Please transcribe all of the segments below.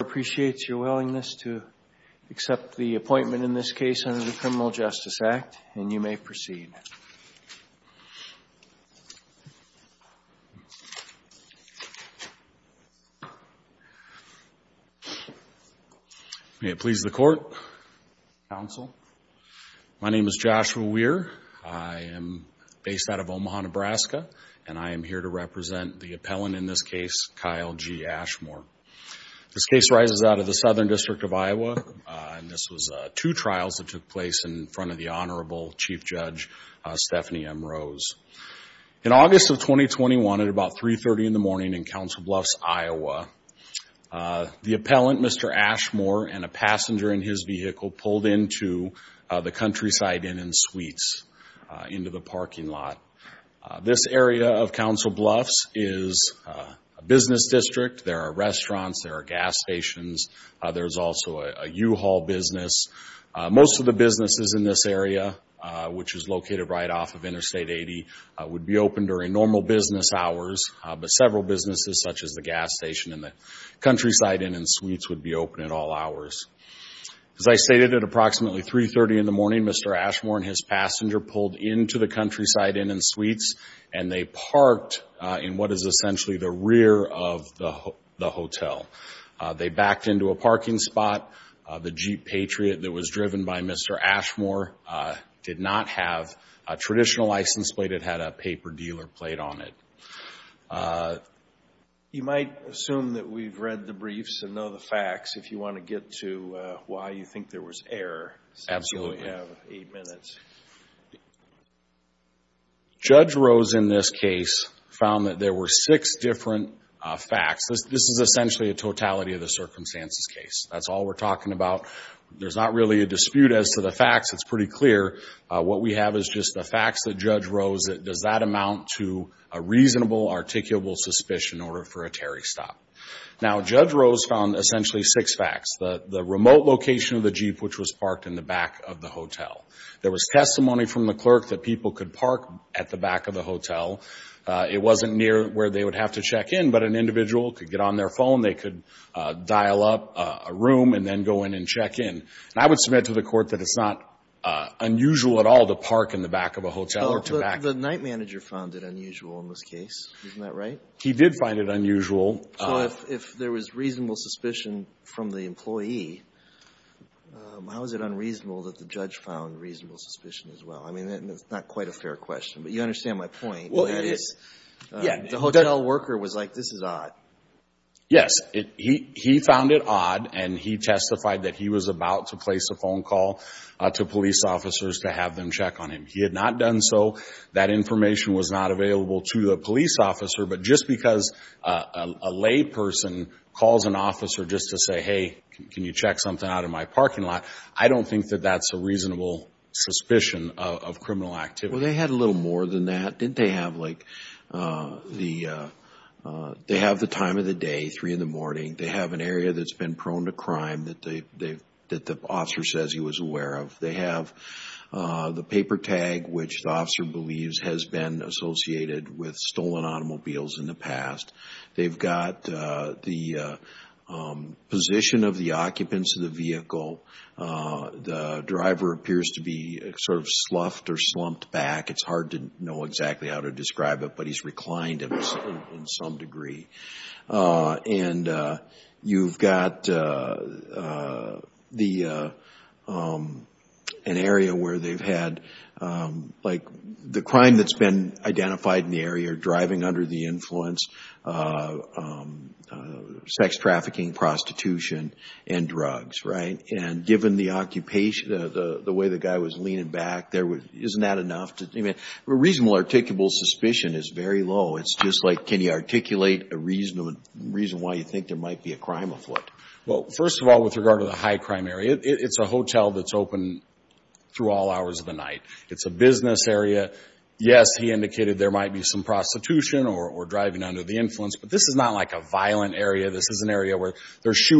appreciates your willingness to accept the appointment in this case under the Criminal Justice Act and you may proceed may it please the court counsel my name is Joshua Weir I am based out of Omaha Nebraska and I am here to represent the of the Southern District of Iowa and this was two trials that took place in front of the Honorable Chief Judge Stephanie M Rose in August of 2021 at about 3 30 in the morning in Council Bluffs Iowa the appellant mr. Ashmore and a passenger in his vehicle pulled into the countryside in in suites into the parking lot this area of Council Bluffs is a business district there are restaurants there are gas stations there's also a U-Haul business most of the businesses in this area which is located right off of interstate 80 would be open during normal business hours but several businesses such as the gas station and the countryside in and suites would be open at all hours as I stated at approximately 3 30 in the morning mr. Ashmore and his passenger pulled into the countryside in and suites and they parked in what is they backed into a parking spot the Jeep Patriot that was driven by mr. Ashmore did not have a traditional license plate it had a paper dealer plate on it you might assume that we've read the briefs and know the facts if you want to get to why you think there was error absolutely have eight minutes judge Rose in this found that there were six different facts this is essentially a totality of the circumstances case that's all we're talking about there's not really a dispute as to the facts it's pretty clear what we have is just the facts that judge Rose it does that amount to a reasonable articulable suspicion order for a Terry stop now judge Rose found essentially six facts the the remote location of the Jeep which was parked in the back of the hotel there was it wasn't near where they would have to check in but an individual could get on their phone they could dial up a room and then go in and check in and I would submit to the court that it's not unusual at all to park in the back of a hotel the night manager found it unusual in this case isn't that right he did find it unusual if there was reasonable suspicion from the employee how is it unreasonable that the judge found reasonable suspicion as well I mean it's not quite a fair question but you understand my point well it is yeah the hotel worker was like this is odd yes it he he found it odd and he testified that he was about to place a phone call to police officers to have them check on him he had not done so that information was not available to the police officer but just because a layperson calls an officer just to say hey can you check something out of my parking lot I don't think that that's a reasonable suspicion of criminal activity well they had a little more than that didn't they have like the they have the time of the day 3 in the morning they have an area that's been prone to crime that they they that the officer says he was aware of they have the paper tag which the officer believes has been associated with stolen automobiles in the past they've got the position of the occupants of the vehicle the driver appears to be sort of sloughed or slumped back it's hard to know exactly how to describe it but he's reclined in some degree and you've got the an area where they've had like the crime that's been identified in the area driving under the influence sex trafficking prostitution and drugs right and given the occupation of the the way the guy was leaning back there was isn't that enough to even a reasonable articulable suspicion is very low it's just like can you articulate a reasonable reason why you think there might be a crime of what well first of all with regard to the high crime area it's a hotel that's open through all hours of the night it's a business area yes he indicated there might be some prostitution or driving under the influence but this is not like a violent area this is an area where there's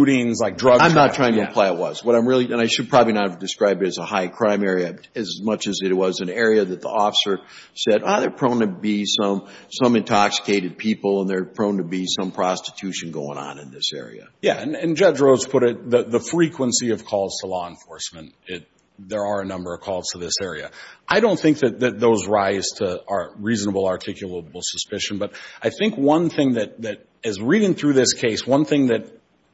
like drugs I'm not trying to apply it was what I'm really and I should probably not have described it as a high crime area as much as it was an area that the officer said either prone to be some some intoxicated people and they're prone to be some prostitution going on in this area yeah and judge rose put it the the frequency of calls to law enforcement it there are a number of calls to this area I don't think that those rise to our reasonable articulable suspicion but I think one thing that that is reading through this case one thing that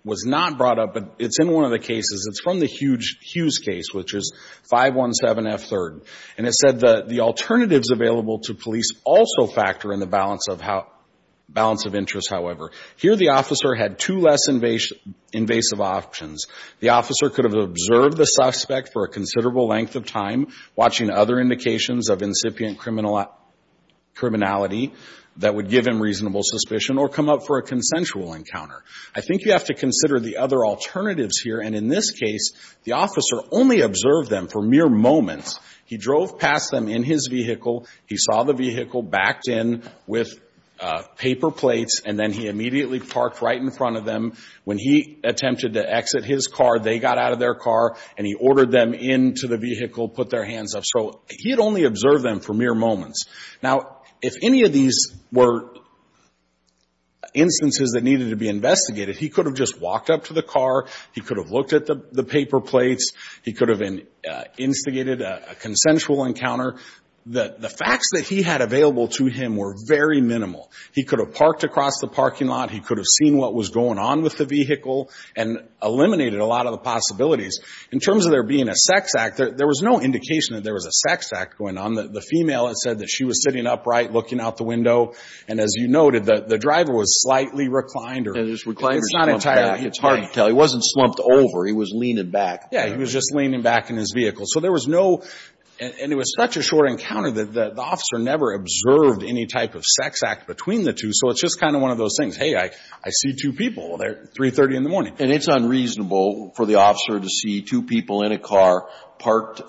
was not brought up but it's in one of the cases it's from the huge Hughes case which is five one seven f-third and it said that the alternatives available to police also factor in the balance of how balance of interest however here the officer had to less invasion invasive options the officer could have observed the suspect for a considerable length of time watching other indications of incipient criminal criminality that would give him reasonable suspicion or come up for a consensual encounter I think you have to consider the other alternatives here and in this case the officer only observed them for mere moments he drove past them in his vehicle he saw the vehicle backed in with paper plates and then he immediately parked right in front of them when he attempted to exit his car they got out of their car and he ordered them into the vehicle put their hands up so he had only observed them for mere moments now if any of these were instances that needed to be investigated he could have just walked up to the car he could have looked at the the paper plates he could have an instigated a consensual encounter that the facts that he had available to him were very minimal he could have parked across the parking lot he could have seen what was going on with the vehicle and eliminated a lot of the possibilities in terms of there being a sex act there was no indication that there was a sex act going on that the female had said that she was sitting upright looking out the window and as you noted that the driver was slightly reclined or reclined it's not entirely it's hard to tell he wasn't slumped over he was leaning back yeah he was just leaning back in his vehicle so there was no and it was such a short encounter that the officer never observed any type of sex act between the two so it's just kind of one of those things hey I I see two people there 330 in the morning and it's unreasonable for the officer to see two people in a car parked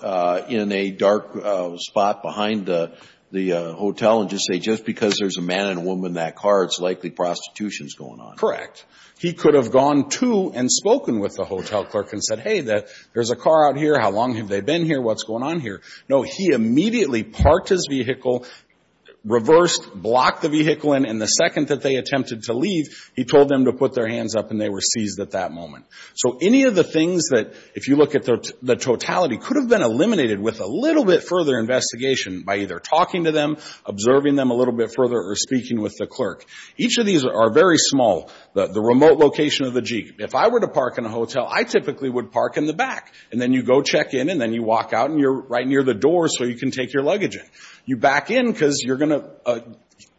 in a dark spot behind the the hotel and just say just because there's a man and a woman that car it's likely prostitution is going on correct he could have gone to and spoken with the hotel clerk and said hey that there's a car out here how long have they been here what's going on here no he immediately parked his vehicle reversed block the vehicle in and the second that they attempted to leave he told them to put their hands up and they were seized at that moment so any of the things that if you look at the totality could have been eliminated with a little bit further investigation by either talking to them observing them a little bit further or speaking with the clerk each of these are very small the remote location of the jeep if I were to park in a hotel I typically would park in the back and then you go check in and then you walk out and you're right near the door so you can take your luggage in you back in because you're gonna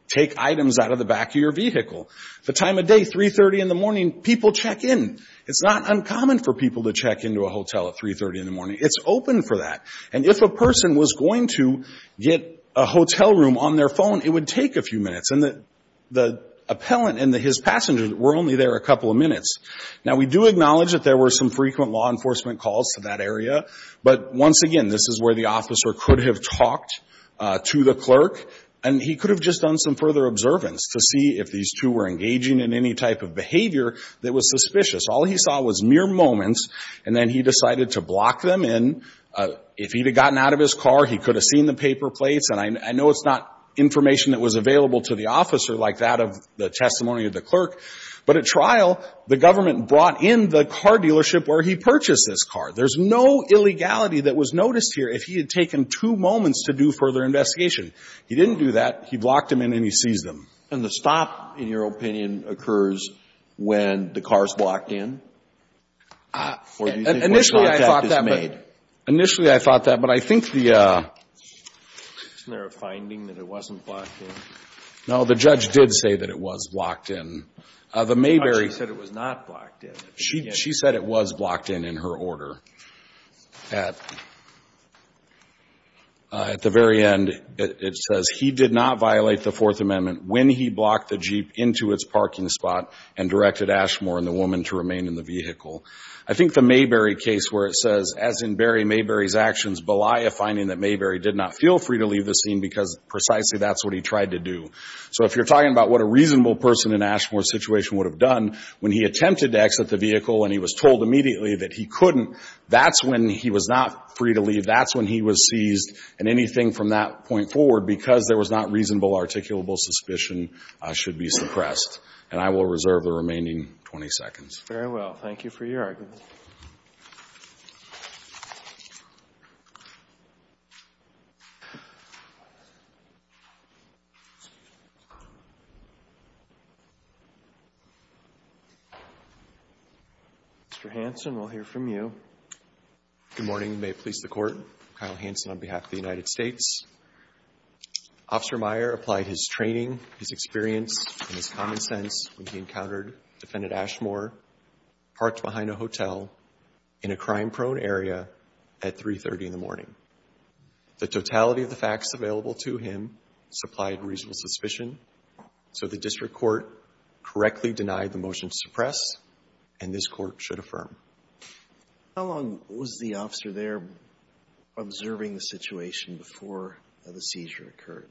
take items out of the back of your vehicle the time of day 3 30 in the morning people check in it's not uncommon for people to check into a hotel at 3 30 in the morning it's open for that and if a person was going to get a hotel room on their phone it would take a few minutes and that the appellant and his passengers were only there a couple of minutes now we do acknowledge that there were some frequent law enforcement calls to that area but once again this is where the officer could have talked to the clerk and he could have just done some further observance to see if these two were engaging in any type of behavior that was suspicious all he saw was mere moments and then he decided to block them in if he'd have gotten out of his car he could have seen the paper plates and I know it's not information that was available to the officer like that of the testimony of the clerk but at trial the government brought in the car dealership where he purchased this car there's no illegality that was noticed here if he had taken two moments to do further investigation he didn't do that he blocked him in and he sees them and the stop in your opinion occurs when the cars blocked in initially I thought that but I think the no the judge did say that it was blocked in the Mayberry said it was not blocked in she said it was blocked in in her order at at the very end it says he did not violate the Fourth Amendment when he blocked the Jeep into its parking spot and directed Ashmore and the woman to remain in the vehicle I think the Mayberry case where it says as in Barry Mayberry's actions Belia finding that Mayberry did not feel free to leave the scene because precisely that's what he tried to do so if you're talking about what a reasonable person in Ashmore situation would have done when he attempted to exit the vehicle and he was told immediately that he couldn't that's when he was not free to leave that's when he was seized and anything from that point forward because there was not a reasonable articulable suspicion should be suppressed and I will reserve the remaining 20 seconds very well thank you for your argument Mr. Hanson we'll hear from you good morning may it please the court Kyle Hanson on behalf of the United States officer Meyer applied his training his experience and his common sense when he encountered defendant Ashmore parked behind a hotel in a crime prone area at 330 in the morning the totality of the facts available to him supplied reasonable suspicion so the district court correctly denied the motion to suppress and this court should affirm how long was the officer there observing the situation before the seizure occurred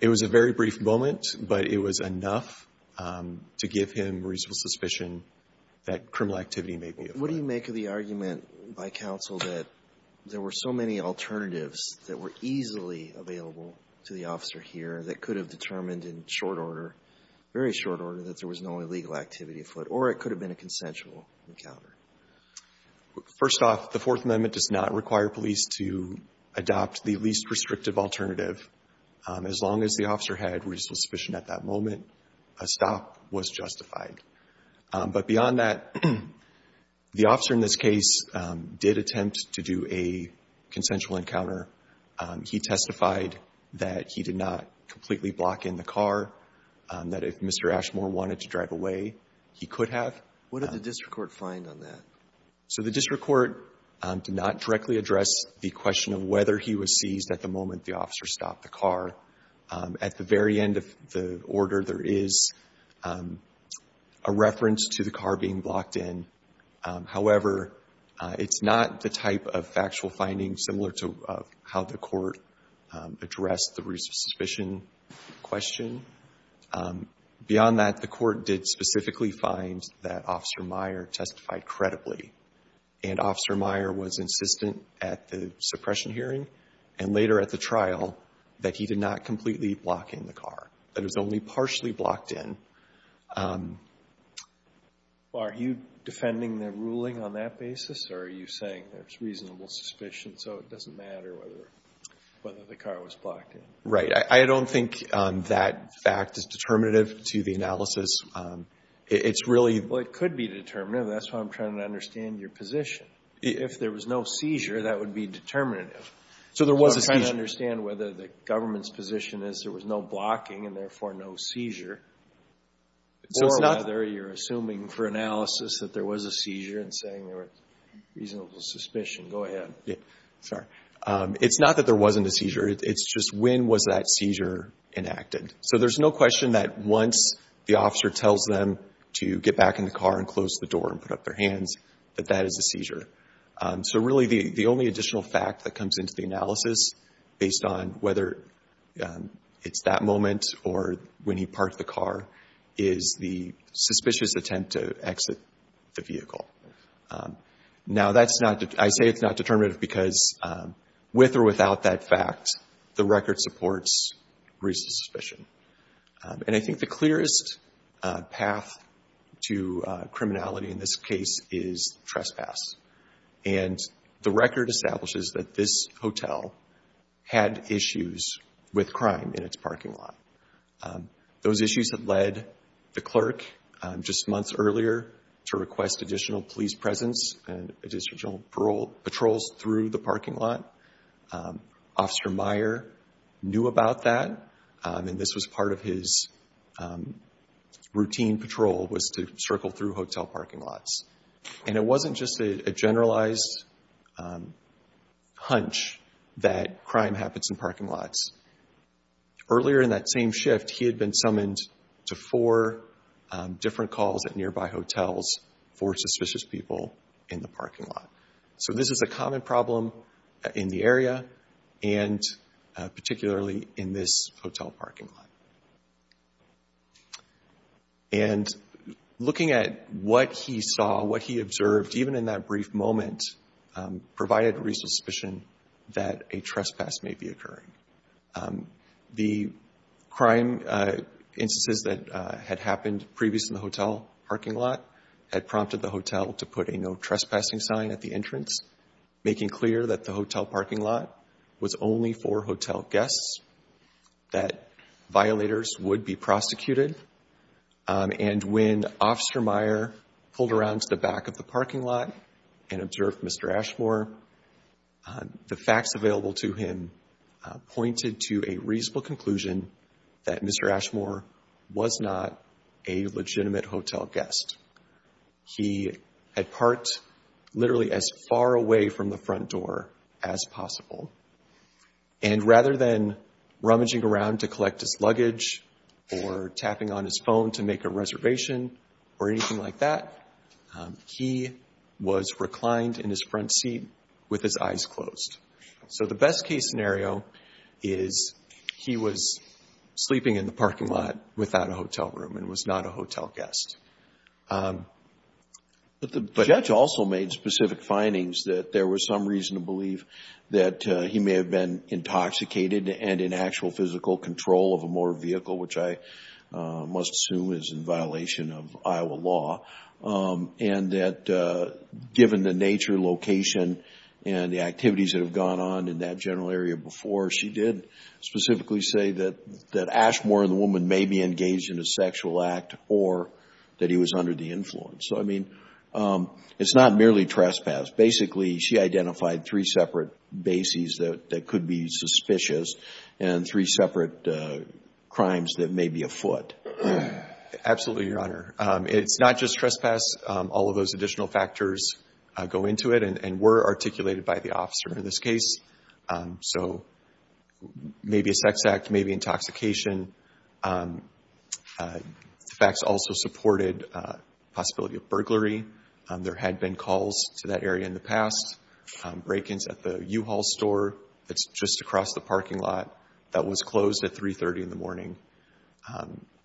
it was a very brief moment but it was enough to give him reasonable suspicion that criminal activity maybe what do you make of the argument by counsel that there were so many alternatives that were easily available to the officer here that could have determined in short order very short order that there was no illegal activity foot or it could have been a consensual encounter first off the Fourth Amendment does not require police to adopt the least restrictive alternative as long as the officer had reasonable suspicion at that moment a stop was justified but beyond that the officer in this case did attempt to do a consensual encounter he testified that he did not completely block in the car that if Mr. Ashmore wanted to drive away he could have what are the district court find on that so the district court did not directly address the question of whether he was seized at the moment the officer stopped the car at the very end of the order there is a reference to the car being blocked in however it's not the type of factual findings similar to how the court addressed the reason suspicion question beyond that the court did specifically find that officer Meyer testified credibly and officer Meyer was insistent at the suppression hearing and later at the trial that he did not completely block in the car that is only partially blocked in are you defending the ruling on that basis or are you saying there's reasonable suspicion so it doesn't matter whether whether the car was blocked in right I don't think that fact is determinative to the analysis it's really well it could be determined that's why I'm trying to understand your position if there was no seizure that would be determinative so there was a try to understand whether the government's position is there was no blocking and therefore no seizure so it's not there you're assuming for analysis that there was a seizure and saying there was reasonable suspicion go ahead sorry it's not that there wasn't a seizure it's just when was that seizure enacted so there's no question that once the officer tells them to get back in the car and close the door and put up their hands that that is a seizure so really the the only additional fact that comes into the analysis based on whether it's that moment or when he parked the car is the suspicious attempt to exit the vehicle now that's not I say it's not determinative because with or without that fact the record supports reasonable suspicion and I think the clearest path to criminality in this case is trespass and the record establishes that this hotel had issues with crime in its parking lot those issues that led the clerk just months earlier to request additional police presence and additional patrols through the parking lot officer Meyer knew about that and this was part of his routine patrol was to circle through hotel parking lots and it wasn't just a generalized hunch that crime happens in parking lots earlier in that same shift he had been summoned to four different calls at nearby hotels for suspicious people in the parking lot so this is a common problem in the area and particularly in this hotel parking lot and looking at what he saw what he observed even in that brief moment provided a reasonable suspicion that a trespass may be occurring the crime instances that had happened previous in the hotel parking lot had prompted the that the hotel parking lot was only for hotel guests that violators would be prosecuted and when officer Meyer pulled around to the back of the parking lot and observed Mr. Ashmore the facts available to him pointed to a reasonable conclusion that Mr. Ashmore was not a legitimate front door as possible and rather than rummaging around to collect his luggage or tapping on his phone to make a reservation or anything like that he was reclined in his front seat with his eyes closed so the best case scenario is he was sleeping in the parking lot without a hotel room and was not a hotel guest. The judge also made specific findings that there was some reason to believe that he may have been intoxicated and in actual physical control of a motor vehicle which I must assume is in violation of Iowa law and that given the nature location and the activities that have gone on in that general area before she did specifically say that Ashmore and the woman may be engaged in a sexual act or that he was under the influence so I mean it's not merely trespass basically she identified three separate bases that could be suspicious and three separate crimes that may be afoot. Absolutely your honor it's not just trespass all of those additional factors go into it and were articulated by the officer in this case so maybe a sex act, maybe intoxication the facts also supported the possibility of burglary. There had been calls to that area in the past. Break-ins at the U-Haul store that's just across the parking lot that was closed at 3.30 in the morning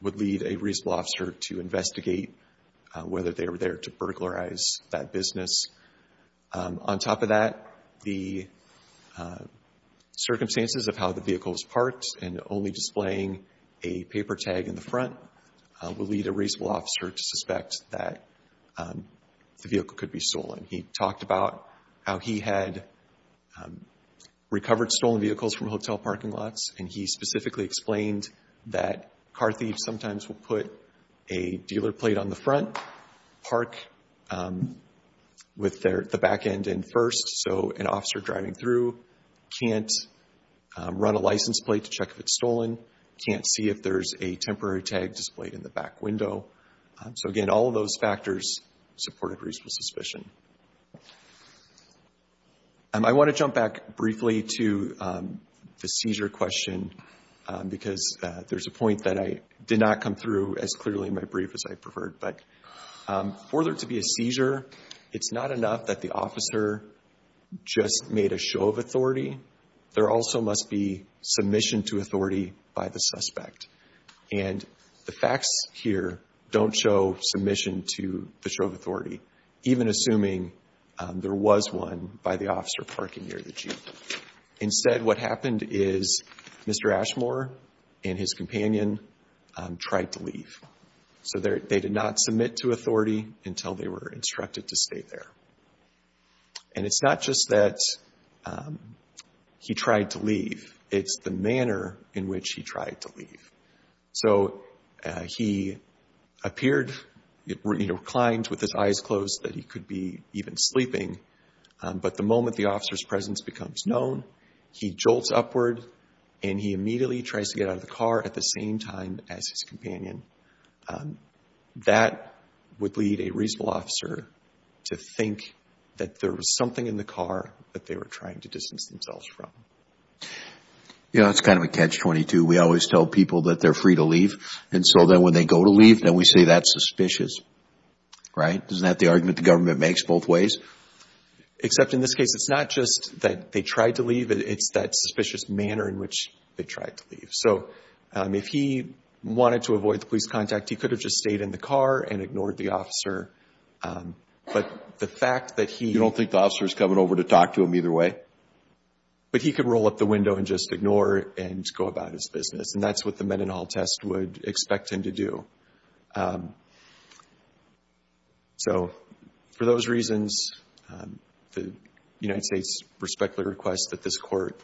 would lead a reasonable officer to investigate whether they were there to burglarize that business. On top of that the circumstances of how the vehicle was parked and only displaying a paper tag in the front would lead a reasonable officer to suspect that the vehicle could be stolen. He talked about how he had recovered stolen vehicles from hotel parking lots and he specifically explained that car thieves sometimes will put a dealer plate on the front, park with the back end in first so an officer driving through can't run a license plate to check if it's stolen, can't see if there's a temporary tag displayed in the back window. So again all of those factors supported a reasonable suspicion. I want to jump back briefly to the seizure question because there's a point that I did not come through as clearly in my brief as I preferred but for there to be a seizure it's not enough that the officer just made a show of authority, there also must be submission to authority by the suspect and the facts here don't show submission to the show of authority even assuming there was one by the officer parking near the Jeep. Instead what happened is Mr. Ashmore and his companion tried to leave. So they did not submit to authority until they were instructed to stay there. And it's not just that he tried to leave, it's the manner in which he tried to leave. So he appeared, you know, kind with his eyes closed that he could be even sleeping but the moment the officer's presence becomes known he jolts upward and he immediately tries to get out of the car at the same time as his companion. That would lead a reasonable officer to think that there was something in the car that they were trying to distance themselves from. Yeah, it's kind of a catch-22. We always tell people that they're free to leave and so then when they go to leave then we say that's suspicious, right? Isn't that the argument the government makes both ways? Except in this case it's not just that they tried to leave, it's that suspicious manner in which they tried to leave. So if he wanted to avoid the police contact he could have just stayed in the car and ignored the officer but the fact that he... You don't think the officer's coming over to talk to him either way? But he could roll up the window and just ignore it and go about his business and that's what the Mendenhall test would expect him to do. So for those reasons the United States respectfully requests that this court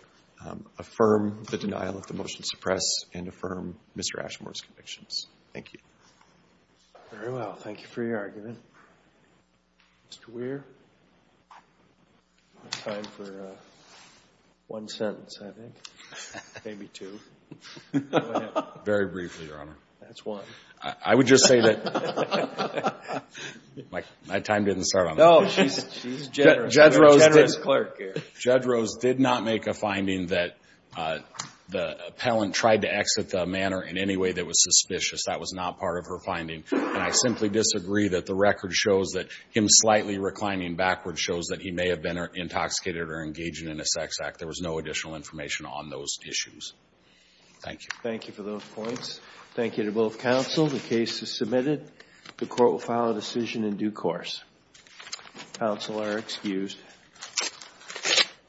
affirm the denial of the motion to suppress and affirm Mr. Ashmore's convictions. Thank you. Very well. Thank you for your argument. Mr. Weir, time for one sentence I think. Maybe two. Very briefly, Your Honor. That's one. I would just say that... My time didn't start on that. No, she's generous. Judge Rose did not make a finding that the appellant tried to exit the manor in any way that was suspicious. That was not part of her record shows that him slightly reclining backwards shows that he may have been intoxicated or engaging in a sex act. There was no additional information on those issues. Thank you. Thank you for those points. Thank you to both counsel. The case is submitted. The court will file a decision in due course. Counsel are excused.